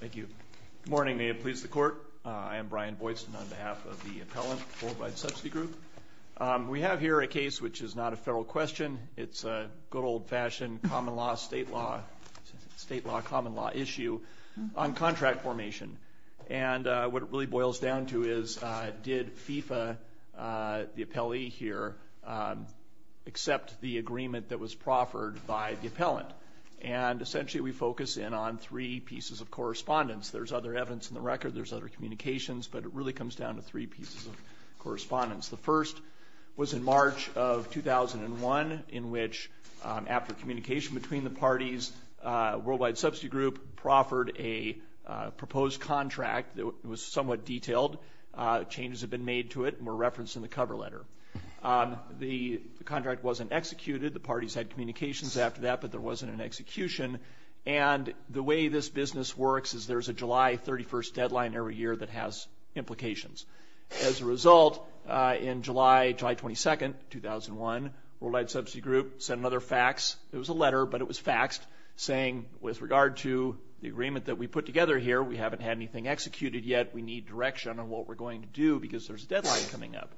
Thank you. Good morning. May it please the Court. I am Brian Boydston on behalf of the Appellant Worldwide Subsidy Group. We have here a case which is not a federal question. It's a good old-fashioned common law, state law, state law, common law issue on contract formation. And what it really boils down to is did FIFA, the appellee here, accept the agreement that was proffered by the appellant? And essentially we focus in on three pieces of correspondence. There's other evidence in the record. There's other communications. But it really comes down to three pieces of correspondence. The first was in March of 2001 in which, after communication between the parties, Worldwide Subsidy Group proffered a proposed contract that was somewhat detailed. Changes had been made to it and were referenced in the cover letter. The contract wasn't executed. The parties had communications after that, but there wasn't an execution. And the way this business works is there's a July 31st deadline every year that has implications. As a result, in July, July 22nd, 2001, Worldwide Subsidy Group sent another fax. It was a letter, but it was faxed, saying, with regard to the agreement that we put together here, we haven't had anything executed yet. We need direction on what we're going to do because there's a deadline coming up.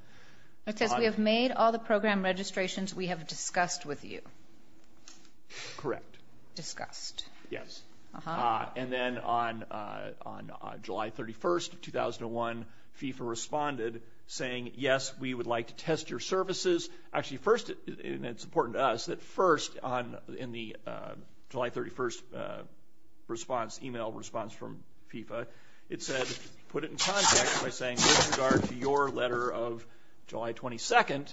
It says we have made all the program registrations we have discussed with you. Correct. Discussed. Yes. Uh-huh. And then on July 31st, 2001, FIFA responded, saying, yes, we would like to test your services. Actually, first, and it's important to us, that first, in the July 31st response, e-mail response from FIFA, it said, put it in context by saying, with regard to your letter of July 22nd,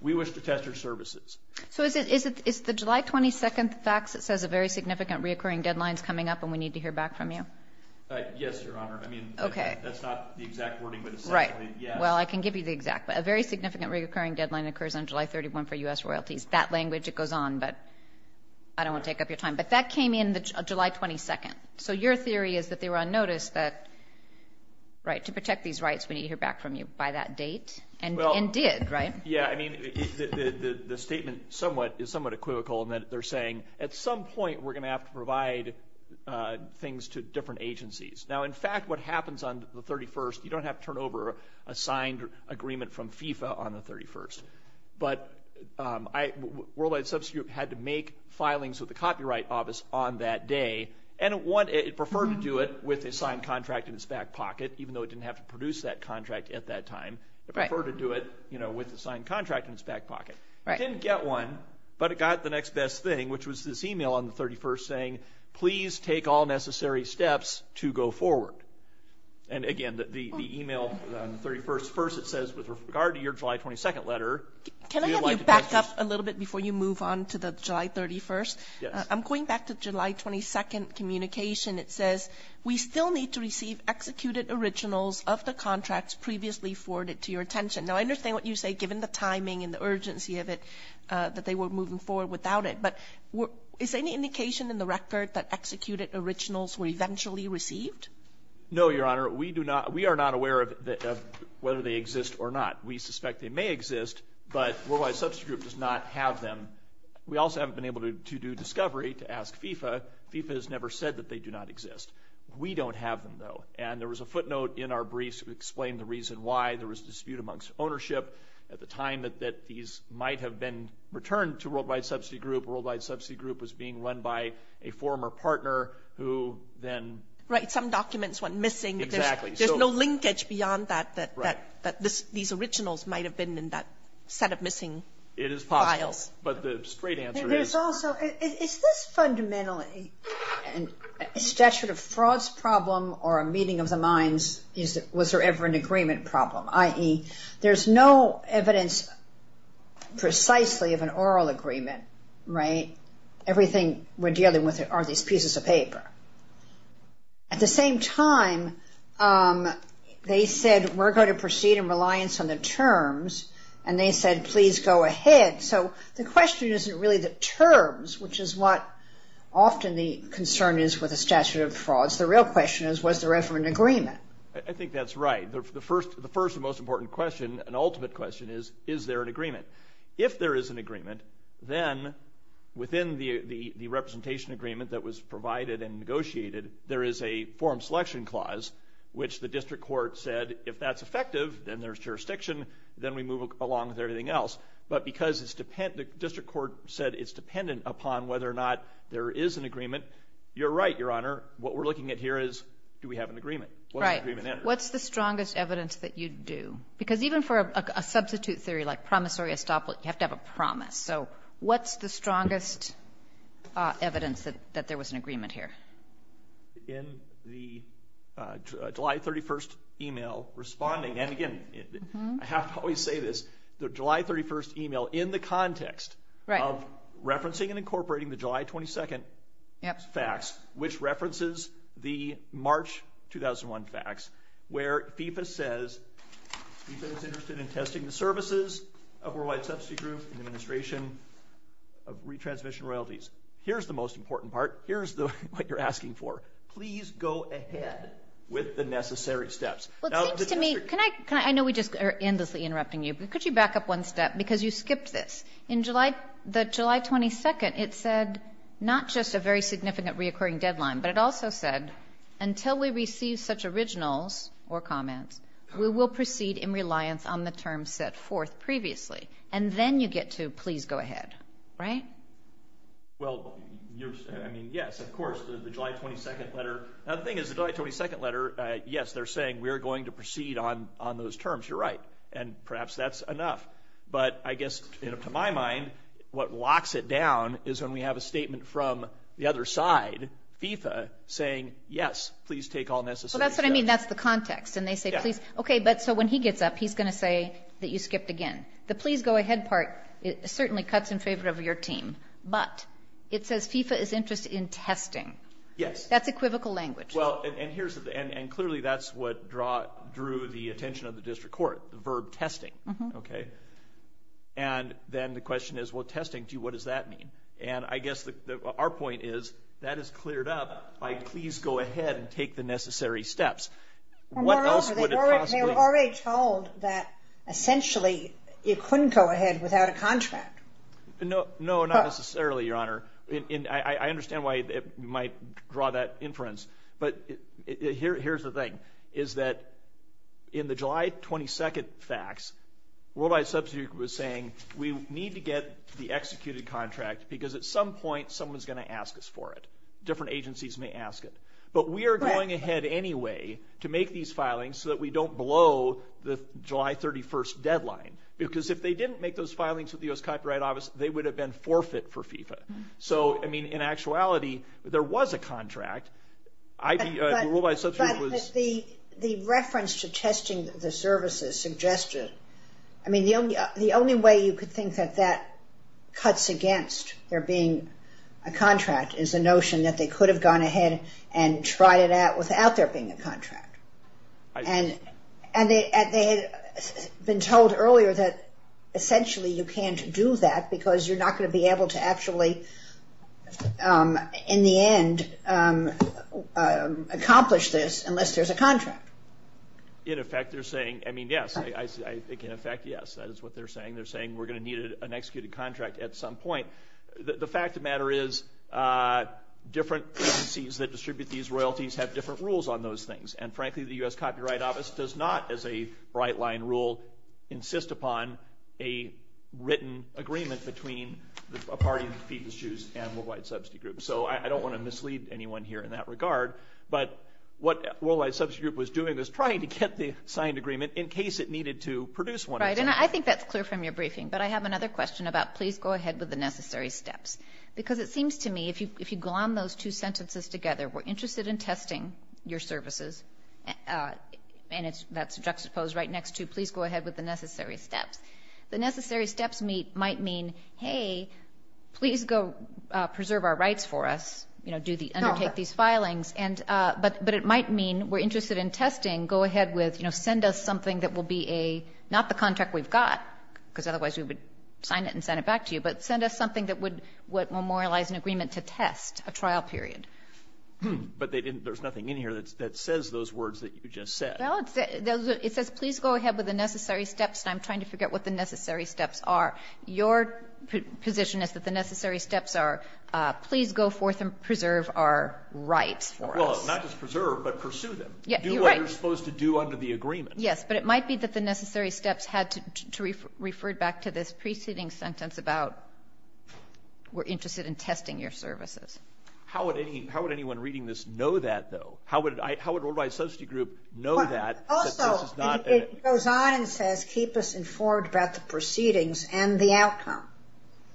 we wish to test your services. So is it the July 22nd fax that says a very significant reoccurring deadline is coming up and we need to hear back from you? Yes, Your Honor. Okay. I mean, that's not the exact wording, but essentially, yes. Well, I can give you the exact. A very significant reoccurring deadline occurs on July 31 for U.S. royalties. That language, it goes on, but I don't want to take up your time. But that came in July 22nd. So your theory is that they were on notice that, right, to protect these rights, we need to hear back from you by that date, and did, right? Yeah. I mean, the statement is somewhat equivocal in that they're saying, at some point, we're going to have to provide things to different agencies. Now, in fact, what happens on the 31st, you don't have to turn over a signed agreement from FIFA on the 31st. But Worldwide Substitute had to make filings with the Copyright Office on that day, and it preferred to do it with a signed contract in its back pocket, even though it didn't have to produce that contract at that time. It preferred to do it, you know, with a signed contract in its back pocket. It didn't get one, but it got the next best thing, which was this e-mail on the 31st saying, please take all necessary steps to go forward. And, again, the e-mail on the 31st, first it says, with regard to your July 22nd letter. Can I have you back up a little bit before you move on to the July 31st? Yes. I'm going back to July 22nd communication. It says, we still need to receive executed originals of the contracts previously forwarded to your attention. Now, I understand what you say, given the timing and the urgency of it, that they were moving forward without it. But is there any indication in the record that executed originals were eventually received? No, Your Honor. We do not we are not aware of whether they exist or not. We suspect they may exist, but Worldwide Subsidy Group does not have them. We also haven't been able to do discovery to ask FIFA. FIFA has never said that they do not exist. We don't have them, though. And there was a footnote in our briefs that explained the reason why. There was a dispute amongst ownership at the time that these might have been returned to Worldwide Subsidy Group, Worldwide Subsidy Group was being run by a former partner who then. Right. Some documents went missing. Exactly. There's no linkage beyond that, that these originals might have been in that set of missing files. It is possible. But the straight answer is. There's also, is this fundamentally a statute of frauds problem or a meeting of the minds? Was there ever an agreement problem? There's no evidence precisely of an oral agreement. Right. Everything we're dealing with are these pieces of paper. At the same time, they said we're going to proceed in reliance on the terms, and they said please go ahead. So the question isn't really the terms, which is what often the concern is with a statute of frauds. The real question is was there ever an agreement? I think that's right. The first and most important question, an ultimate question is, is there an agreement? If there is an agreement, then within the representation agreement that was provided and negotiated, there is a form selection clause which the district court said if that's effective, then there's jurisdiction, then we move along with everything else. But because it's dependent, the district court said it's dependent upon whether or not there is an agreement. You're right, Your Honor. What we're looking at here is do we have an agreement? Right. What's the strongest evidence that you do? Because even for a substitute theory like promissory estoppel, you have to have a promise. So what's the strongest evidence that there was an agreement here? In the July 31st e-mail responding. And, again, I have to always say this, the July 31st e-mail in the context of referencing and incorporating the July 22nd facts, which references the March 2001 facts where FIFA says FIFA is interested in testing the services of Worldwide Subsidy Group and administration of retransmission royalties. Here's the most important part. Here's what you're asking for. Please go ahead with the necessary steps. Well, it seems to me, I know we just are endlessly interrupting you, but could you back up one step? Because you skipped this. In the July 22nd, it said not just a very significant reoccurring deadline, but it also said until we receive such originals or comments, we will proceed in reliance on the terms set forth previously. And then you get to please go ahead. Right? Well, I mean, yes, of course, the July 22nd letter. Now, the thing is the July 22nd letter, yes, they're saying we're going to proceed on those terms. You're right. And perhaps that's enough. But I guess, to my mind, what locks it down is when we have a statement from the other side, FIFA, saying, yes, please take all necessary steps. Well, that's what I mean. That's the context. And they say, please. Okay. But so when he gets up, he's going to say that you skipped again. The please go ahead part certainly cuts in favor of your team. But it says FIFA is interested in testing. Yes. That's equivocal language. Well, and clearly that's what drew the attention of the district court, the verb testing. Okay. And then the question is, well, testing, what does that mean? And I guess our point is that is cleared up by please go ahead and take the necessary steps. What else would it possibly? They were already told that essentially it couldn't go ahead without a contract. No, not necessarily, Your Honor. I understand why you might draw that inference. But here's the thing, is that in the July 22nd facts, Worldwide Substitute Group was saying we need to get the executed contract because at some point someone's going to ask us for it. Different agencies may ask it. But we are going ahead anyway to make these filings so that we don't blow the July 31st deadline. Because if they didn't make those filings with the U.S. Copyright Office, they would have been forfeit for FIFA. So, I mean, in actuality, there was a contract. But the reference to testing the services suggested, I mean, the only way you could think that that cuts against there being a contract is the notion that they could have gone ahead and tried it out without there being a contract. And they had been told earlier that essentially you can't do that because you're not going to be able to actually, in the end, accomplish this unless there's a contract. In effect, they're saying, I mean, yes. I think in effect, yes, that is what they're saying. They're saying we're going to need an executed contract at some point. The fact of the matter is different agencies that distribute these royalties have different rules on those things. And frankly, the U.S. Copyright Office does not, as a bright line rule, insist upon a written agreement between a party of the FIFA issues and Worldwide Subsidy Group. So, I don't want to mislead anyone here in that regard. But what Worldwide Subsidy Group was doing was trying to get the signed agreement in case it needed to produce one. Right. And I think that's clear from your briefing. But I have another question about please go ahead with the necessary steps. Because it seems to me if you glom those two sentences together, we're interested in testing your services. And that's juxtaposed right next to please go ahead with the necessary steps. The necessary steps might mean, hey, please go preserve our rights for us. You know, undertake these filings. But it might mean we're interested in testing. Go ahead with, you know, send us something that will be a, not the contract we've got, because otherwise we would sign it and send it back to you. But send us something that would memorialize an agreement to test a trial period. But they didn't, there's nothing in here that says those words that you just said. Well, it says please go ahead with the necessary steps. And I'm trying to figure out what the necessary steps are. Your position is that the necessary steps are please go forth and preserve our rights for us. Well, not just preserve, but pursue them. Yeah, you're right. Do what you're supposed to do under the agreement. Yes. But it might be that the necessary steps had to refer back to this preceding sentence about we're interested in testing your services. How would anyone reading this know that, though? How would Worldwide Subsidy Group know that this is not? Also, it goes on and says keep us informed about the proceedings and the outcome.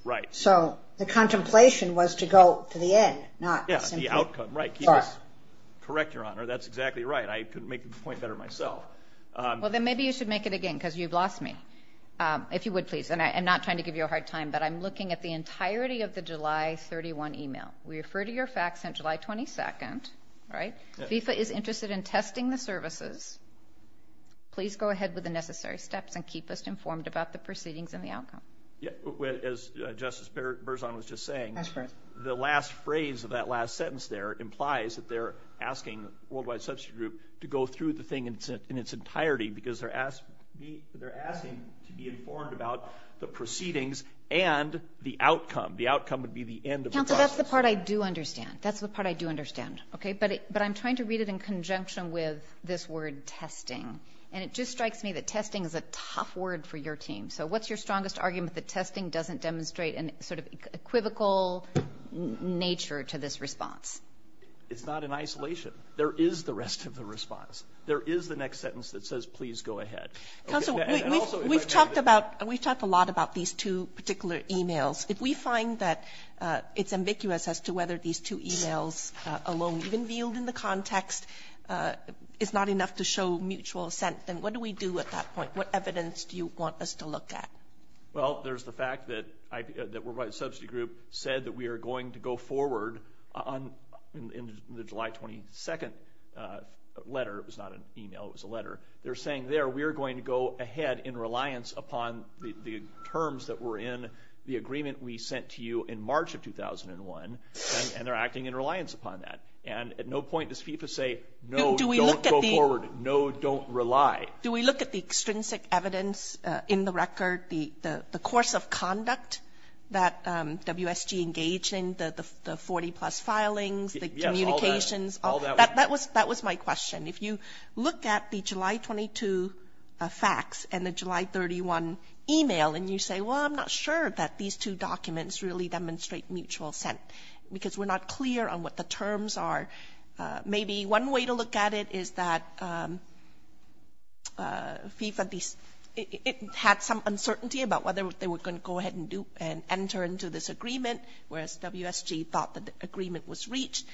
Right. So the contemplation was to go to the end, not simply. Yeah, the outcome, right. Correct. Correct, Your Honor. That's exactly right. I couldn't make the point better myself. Well, then maybe you should make it again, because you've lost me. If you would, please. And I'm not trying to give you a hard time, but I'm looking at the entirety of the July 31 email. We refer to your facts on July 22nd. Right? FIFA is interested in testing the services. Please go ahead with the necessary steps and keep us informed about the proceedings and the outcome. Yeah. As Justice Berzon was just saying, the last phrase of that last sentence there implies that they're asking Worldwide Subsidy Group to go through the thing in its entirety because they're asking to be informed about the proceedings and the outcome. The outcome would be the end of the process. So that's the part I do understand. That's the part I do understand. Okay? But I'm trying to read it in conjunction with this word, testing. And it just strikes me that testing is a tough word for your team. So what's your strongest argument that testing doesn't demonstrate a sort of equivocal nature to this response? It's not in isolation. There is the rest of the response. There is the next sentence that says, please go ahead. Counsel, we've talked about and we've talked a lot about these two particular emails. If we find that it's ambiguous as to whether these two emails alone, even viewed in the context, is not enough to show mutual assent, then what do we do at that point? What evidence do you want us to look at? Well, there's the fact that Worldwide Subsidy Group said that we are going to go forward on the July 22nd letter. It was not an email. It was a letter. They're saying there we are going to go ahead in reliance upon the terms that were in the agreement we sent to you in March of 2001. And they're acting in reliance upon that. And at no point does FIFA say, no, don't go forward. No, don't rely. Do we look at the extrinsic evidence in the record, the course of conduct that WSG engaged in, the 40-plus filings, the communications? Yes, all that. That was my question. If you look at the July 22 facts and the July 31 email and you say, well, I'm not sure that these two documents really demonstrate mutual assent because we're not clear on what the terms are. Maybe one way to look at it is that FIFA had some uncertainty about whether they were going to go ahead and enter into this agreement, whereas WSG thought that the agreement was reached.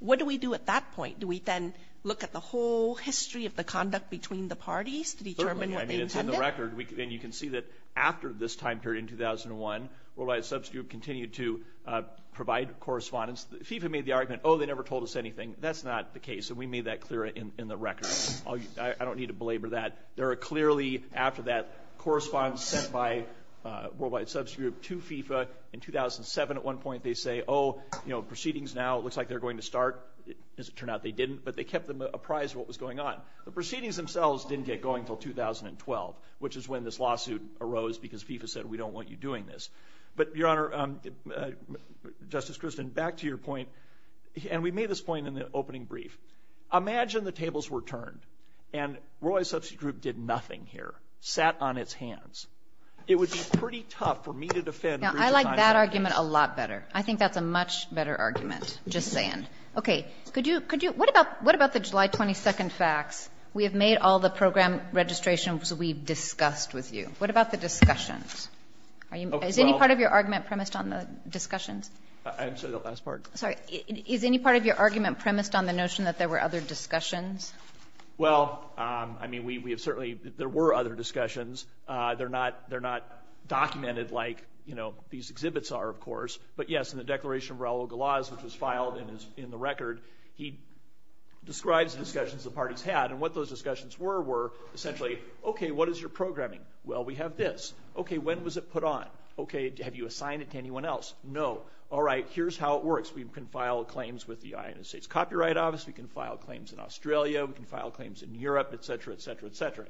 What do we do at that point? Do we then look at the whole history of the conduct between the parties to determine what they intended? I mean, it's in the record. And you can see that after this time period in 2001, WSG continued to provide correspondence. FIFA made the argument, oh, they never told us anything. That's not the case. And we made that clear in the record. I don't need to belabor that. There are clearly, after that correspondence sent by WSG to FIFA in 2007, at one point they say, oh, you know, proceedings now, it looks like they're going to start. As it turned out, they didn't. But they kept them apprised of what was going on. The proceedings themselves didn't get going until 2012, which is when this lawsuit arose because FIFA said, we don't want you doing this. But, Your Honor, Justice Christin, back to your point, and we made this point in the opening brief. Imagine the tables were turned and Roy's substitute group did nothing here, sat on its hands. It would be pretty tough for me to defend. I like that argument a lot better. I think that's a much better argument, just saying. Okay. Could you – what about the July 22 facts? We have made all the program registrations we've discussed with you. What about the discussions? Is any part of your argument premised on the discussions? I'm sorry, the last part. Sorry. Is any part of your argument premised on the notion that there were other discussions? Well, I mean, we have certainly – there were other discussions. They're not documented like, you know, these exhibits are, of course. But, yes, in the Declaration of Raul Galaz, which was filed in the record, he describes the discussions the parties had. And what those discussions were were essentially, okay, what is your programming? Well, we have this. Okay. When was it put on? Okay. Have you assigned it to anyone else? No. All right. Here's how it works. We can file claims with the United States Copyright Office. We can file claims in Australia. We can file claims in Europe, et cetera, et cetera, et cetera.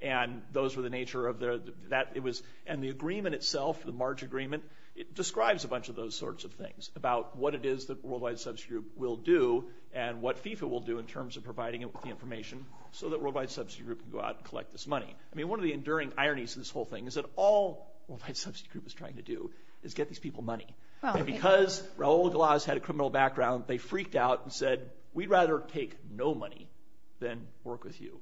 And those were the nature of the – that it was – and the agreement itself, the March agreement, it describes a bunch of those sorts of things about what it is that Worldwide Subsidy Group will do and what FIFA will do in terms of providing it with the information so that Worldwide Subsidy Group can go out and collect this money. I mean, one of the enduring ironies of this whole thing is that all Worldwide Subsidy Group is trying to do is get these people money. And because Raul Galaz had a criminal background, they freaked out and said, we'd rather take no money than work with you.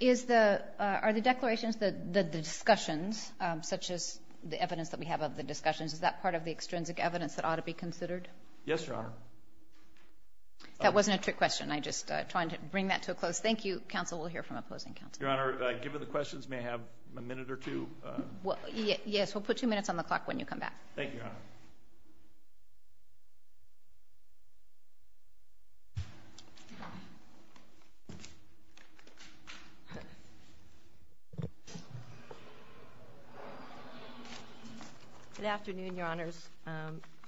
Is the – are the declarations, the discussions, such as the evidence that we have of the discussions, is that part of the extrinsic evidence that ought to be considered? Yes, Your Honor. That wasn't a trick question. I just tried to bring that to a close. Thank you. Counsel will hear from opposing counsel. Your Honor, given the questions, may I have a minute or two? Yes. We'll put two minutes on the clock when you come back. Thank you, Your Honor. Good afternoon, Your Honors.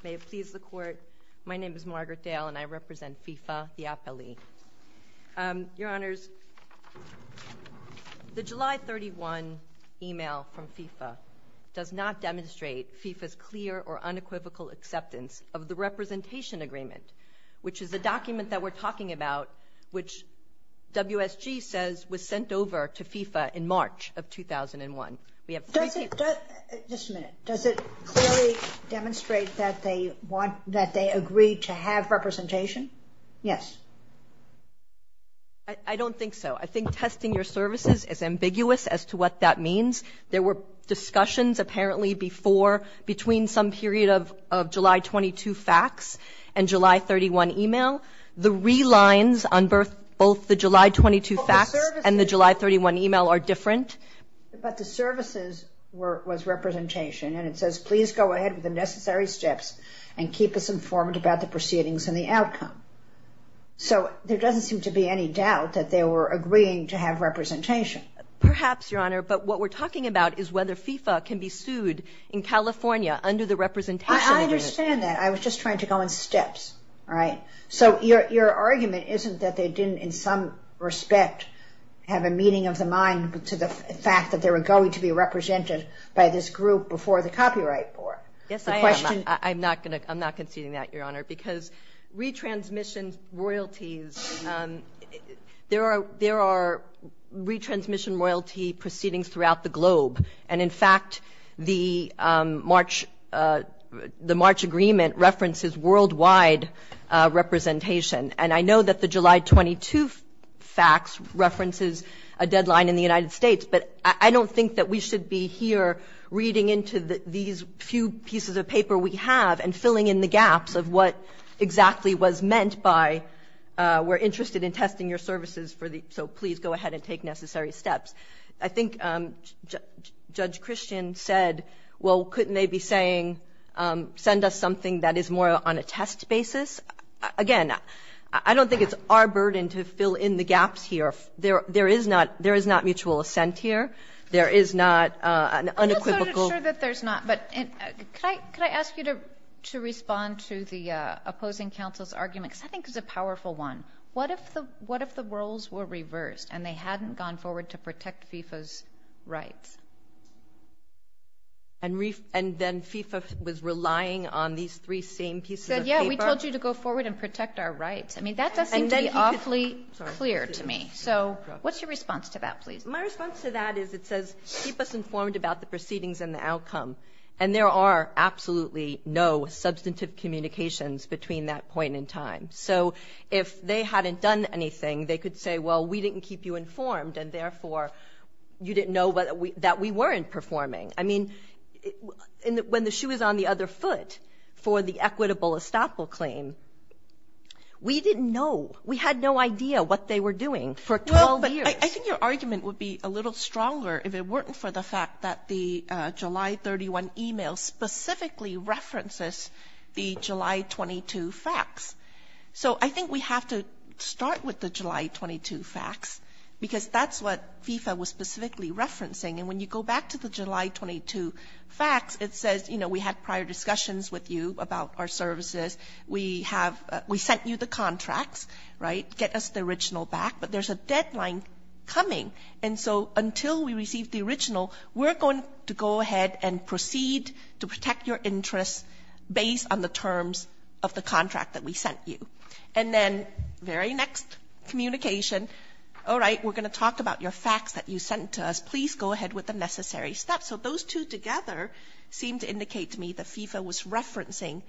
May it please the Court. My name is Margaret Dale, and I represent FIFA, the appellee. Your Honors, the July 31 email from FIFA does not demonstrate FIFA's clear or unequivocal acceptance of the representation agreement, which is the document that we're talking about, which WSG says was sent over to FIFA in March of 2001. We have three papers. Does it – just a minute. Does it clearly demonstrate that they want – that they agree to have representation? Yes. I don't think so. I think testing your services is ambiguous as to what that means. There were discussions apparently before between some period of July 22 facts and July 31 email. The relines on both the July 22 facts and the July 31 email are different. But the services was representation, and it says, please go ahead with the necessary steps and keep us informed about the proceedings and the outcome. So there doesn't seem to be any doubt that they were agreeing to have representation. Perhaps, Your Honor. But what we're talking about is whether FIFA can be sued in California under the representation agreement. I understand that. I was just trying to go in steps, all right? So your argument isn't that they didn't in some respect have a meaning of the mind to the fact that they were going to be represented by this group before the copyright board? Yes, I am. I'm not going to – I'm not conceding that, Your Honor. Because retransmission royalties, there are – there are retransmission royalty proceedings throughout the globe. And in fact, the March – the March agreement references worldwide representation. And I know that the July 22 facts references a deadline in the United States. But I don't think that we should be here reading into these few pieces of paper we have and filling in the gaps of what exactly was meant by we're interested in testing your services for the – so please go ahead and take necessary steps. I think Judge Christian said, well, couldn't they be saying send us something that is more on a test basis? Again, I don't think it's our burden to fill in the gaps here. There is not – there is not mutual assent here. There is not an unequivocal – To respond to the opposing counsel's argument, because I think it's a powerful one, what if the roles were reversed and they hadn't gone forward to protect FIFA's rights? And then FIFA was relying on these three same pieces of paper? He said, yeah, we told you to go forward and protect our rights. I mean, that doesn't seem to be awfully clear to me. So what's your response to that, please? My response to that is it says keep us informed about the proceedings and the outcome. And there are absolutely no substantive communications between that point in time. So if they hadn't done anything, they could say, well, we didn't keep you informed and therefore you didn't know that we weren't performing. I mean, when the shoe is on the other foot for the equitable estoppel claim, we didn't know. We had no idea what they were doing for 12 years. Well, but I think your argument would be a little stronger if it weren't for the fact that the July 31 e-mail specifically references the July 22 facts. So I think we have to start with the July 22 facts because that's what FIFA was specifically referencing. And when you go back to the July 22 facts, it says, you know, we had prior discussions with you about our services. We have we sent you the contracts, right, get us the original back. But there's a deadline coming. And so until we receive the original, we're going to go ahead and proceed to protect your interests based on the terms of the contract that we sent you. And then very next communication, all right, we're going to talk about your facts that you sent to us. Please go ahead with the necessary steps. So those two together seem to indicate to me that FIFA was referencing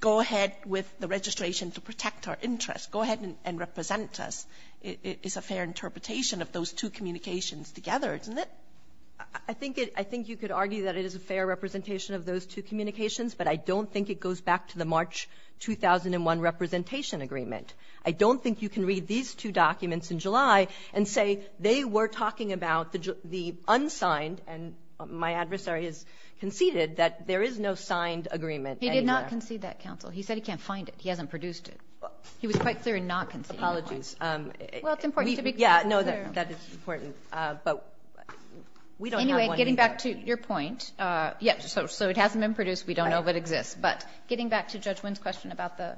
go ahead with the registration to protect our interests. Go ahead and represent us. It's a fair interpretation of those two communications together, isn't it? I think you could argue that it is a fair representation of those two communications, but I don't think it goes back to the March 2001 representation agreement. I don't think you can read these two documents in July and say they were talking about the unsigned and my adversary has conceded that there is no signed agreement anywhere. He did not concede that, counsel. He said he can't find it. He hasn't produced it. He was quite clear in not conceding. Apologies. Well, it's important to be clear. Yeah, no, that is important. But we don't have one either. Anyway, getting back to your point, yes, so it hasn't been produced. We don't know if it exists. But getting back to Judge Wynn's question about the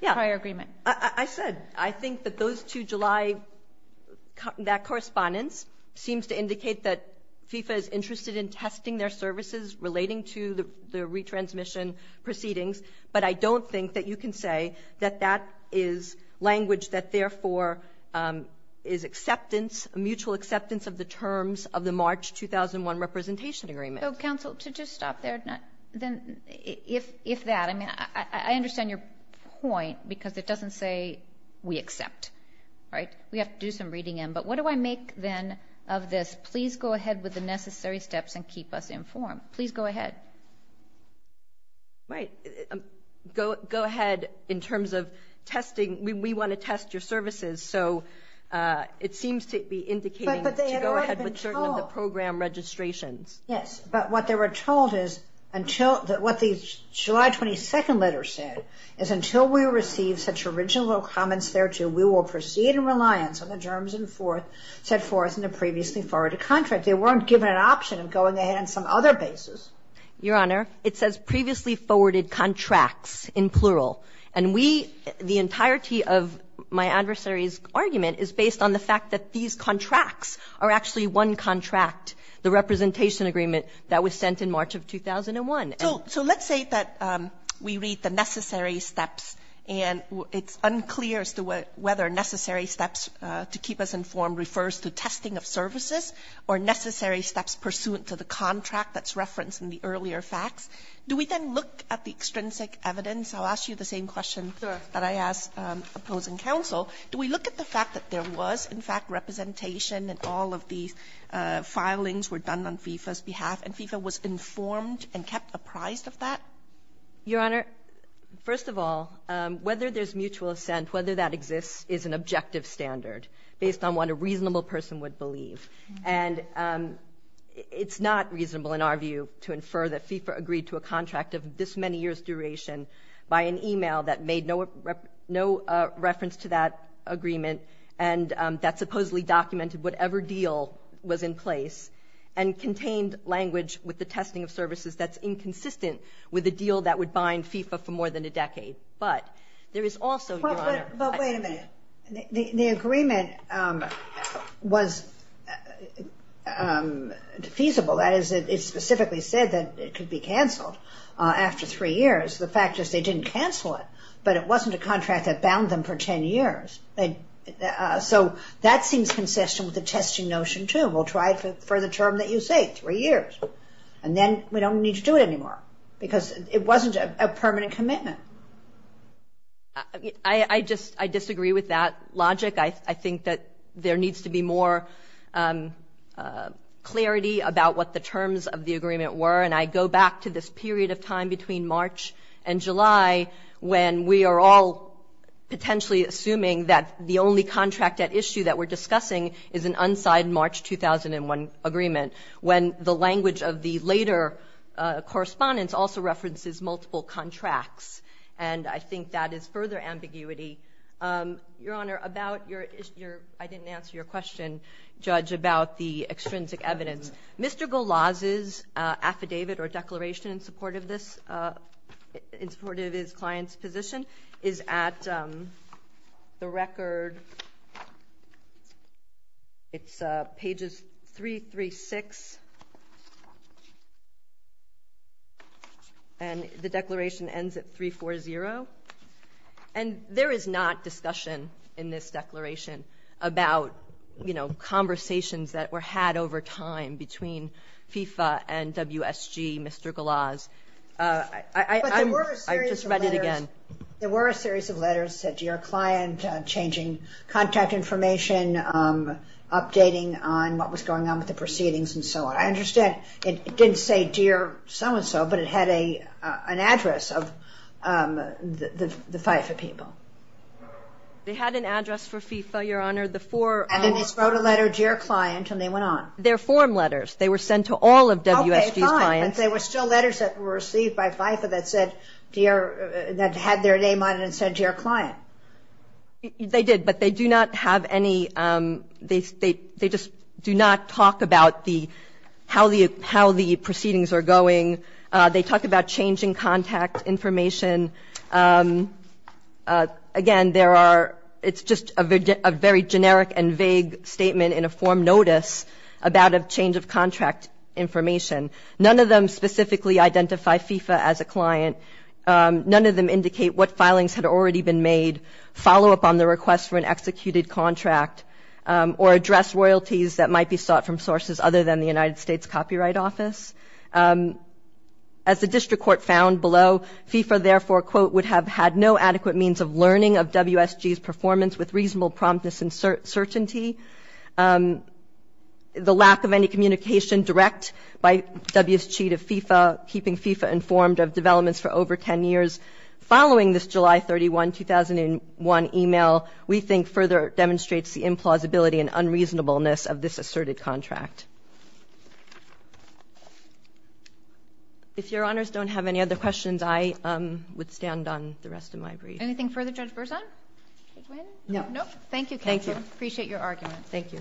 prior agreement. Yeah. I said I think that those two July, that correspondence seems to indicate that FIFA is interested in testing their services relating to the retransmission proceedings. But I don't think that you can say that that is language that, therefore, is acceptance, a mutual acceptance of the terms of the March 2001 representation agreement. So, counsel, to just stop there, if that, I mean, I understand your point because it doesn't say we accept, right? We have to do some reading in. But what do I make, then, of this? Please go ahead with the necessary steps and keep us informed. Please go ahead. Right. Go ahead in terms of testing. We want to test your services. So it seems to be indicating to go ahead with certain of the program registrations. Yes. But what they were told is until what the July 22nd letter said is until we receive such original comments thereto, we will proceed in reliance on the terms set forth in the previously forwarded contract. They weren't given an option of going ahead on some other basis. Your Honor, it says previously forwarded contracts in plural. And we, the entirety of my adversary's argument is based on the fact that these contracts are actually one contract, the representation agreement that was sent in March of 2001. So let's say that we read the necessary steps. And it's unclear as to whether necessary steps to keep us informed refers to testing of services or necessary steps pursuant to the contract that's referenced in the earlier facts. Do we then look at the extrinsic evidence? I'll ask you the same question that I asked opposing counsel. Do we look at the fact that there was, in fact, representation and all of these filings were done on FIFA's behalf, and FIFA was informed and kept apprised of that? Your Honor, first of all, whether there's mutual assent, whether that exists, is an objective standard based on what a reasonable person would believe. And it's not reasonable in our view to infer that FIFA agreed to a contract of this many years' duration by an e-mail that made no reference to that agreement and that supposedly documented whatever deal was in place and contained language with the testing of services that's inconsistent with a deal that would bind FIFA for more than a decade. But there is also, Your Honor... But wait a minute. The agreement was feasible. That is, it specifically said that it could be canceled after three years. The fact is they didn't cancel it, but it wasn't a contract that bound them for 10 years. So that seems consistent with the testing notion, too. We'll try it for the term that you say, three years. And then we don't need to do it anymore because it wasn't a permanent commitment. But I just disagree with that logic. I think that there needs to be more clarity about what the terms of the agreement were. And I go back to this period of time between March and July when we are all potentially assuming that the only contract at issue that we're discussing is an unsigned March 2001 agreement, when the language of the later correspondence also references multiple contracts. And I think that is further ambiguity. Your Honor, about your... I didn't answer your question, Judge, about the extrinsic evidence. Mr. Golaz's affidavit or declaration in support of this, in support of his client's position, is at the record, it's pages 336, and the declaration ends at 340. And there is not discussion in this declaration about, you know, conversations that were had over time between FIFA and WSG, Mr. Golaz. But there were a series of letters... I just read it again. There were a series of letters said, Dear Client, changing contact information, updating on what was going on with the proceedings and so on. I understand it didn't say, Dear so-and-so, but it had an address of the FIFA people. They had an address for FIFA, Your Honor, the four... And then they wrote a letter, Dear Client, and they went on. They're form letters. They were sent to all of WSG's clients. And there were still letters that were received by FIFA that said, Dear... that had their name on it and said, Dear Client. They did, but they do not have any... They just do not talk about how the proceedings are going. They talk about changing contact information. Again, there are... It's just a very generic and vague statement in a form notice about a change of contract information. None of them specifically identify FIFA as a client. None of them indicate what filings had already been made, follow-up on the request for an executed contract, or address royalties that might be sought from sources other than the United States Copyright Office. As the district court found below, FIFA therefore, quote, would have had no adequate means of learning of WSG's performance with reasonable promptness and certainty. The lack of any communication direct by WSG to FIFA, keeping FIFA informed of developments for over 10 years, following this July 31, 2001, email, we think further demonstrates the implausibility and unreasonableness of this asserted contract. If Your Honors don't have any other questions, I would stand on the rest of my brief. Anything further, Judge Berzon? No? Thank you, counsel. Appreciate your argument. Thank you.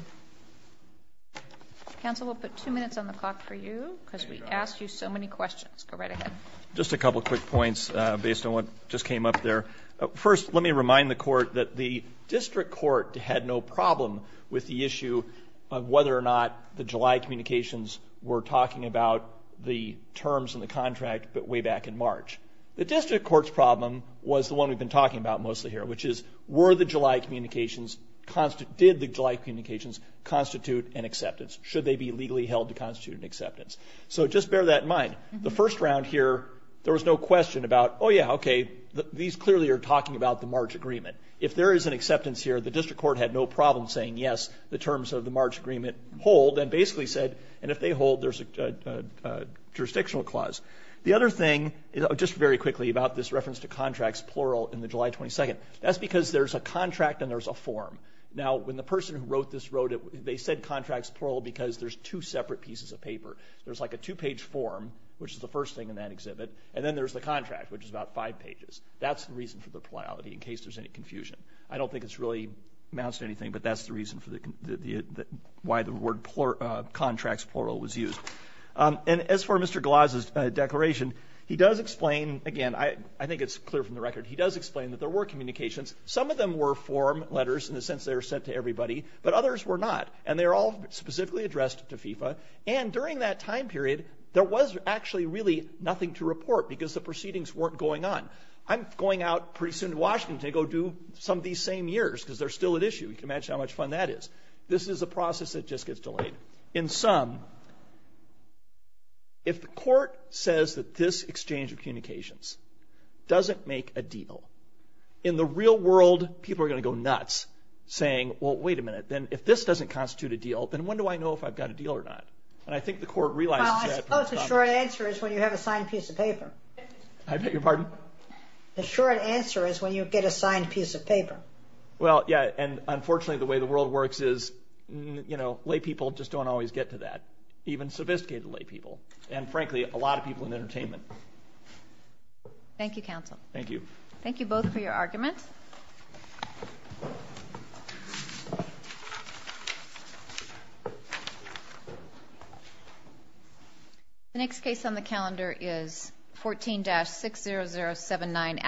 Counsel, we'll put two minutes on the clock for you, because we asked you so many questions. Go right ahead. Just a couple quick points based on what just came up there. First, let me remind the court that the district court had no problem with the issue of whether or not the July communications were talking about the terms in the contract way back in March. The district court's problem was the one we've been talking about mostly here, which is, were the July communications... Did the July communications constitute an acceptance? Should they be legally held to constitute an acceptance? So just bear that in mind. The first round here, there was no question about, oh, yeah, okay, these clearly are talking about the March agreement. If there is an acceptance here, the district court had no problem saying, yes, the terms of the March agreement hold, and basically said, and if they hold, there's a jurisdictional clause. The other thing, just very quickly, about this reference to contracts plural in the July 22nd, that's because there's a contract and there's a form. Now, when the person who wrote this wrote it, they said contracts plural because there's two separate pieces of paper. There's, like, a two-page form, which is the first thing in that exhibit, and then there's the contract, which is about five pages. That's the reason for the plurality, in case there's any confusion. I don't think it's really amounts to anything, but that's the reason why the word contracts plural was used. And as for Mr. Glaz's declaration, he does explain, again, I think it's clear from the record, he does explain that there were communications. Some of them were form letters in the sense they were sent to everybody, but others were not, and they were all specifically addressed to FIFA. And during that time period, there was actually really nothing to report because the proceedings weren't going on. I'm going out pretty soon to Washington to go do some of these same years because they're still at issue. You can imagine how much fun that is. This is a process that just gets delayed. In sum, if the court says that this exchange of communications doesn't make a deal, in the real world, people are going to go nuts, saying, well, wait a minute, if this doesn't constitute a deal, then when do I know if I've got a deal or not? And I think the court realizes that. Well, I suppose the short answer is when you have a signed piece of paper. I beg your pardon? The short answer is when you get a signed piece of paper. Well, yeah, and unfortunately, the way the world works is, you know, laypeople just don't always get to that, even sophisticated laypeople, and frankly, a lot of people in entertainment. Thank you, counsel. Thank you. Thank you both for your argument. The next case on the calendar is 14-60079.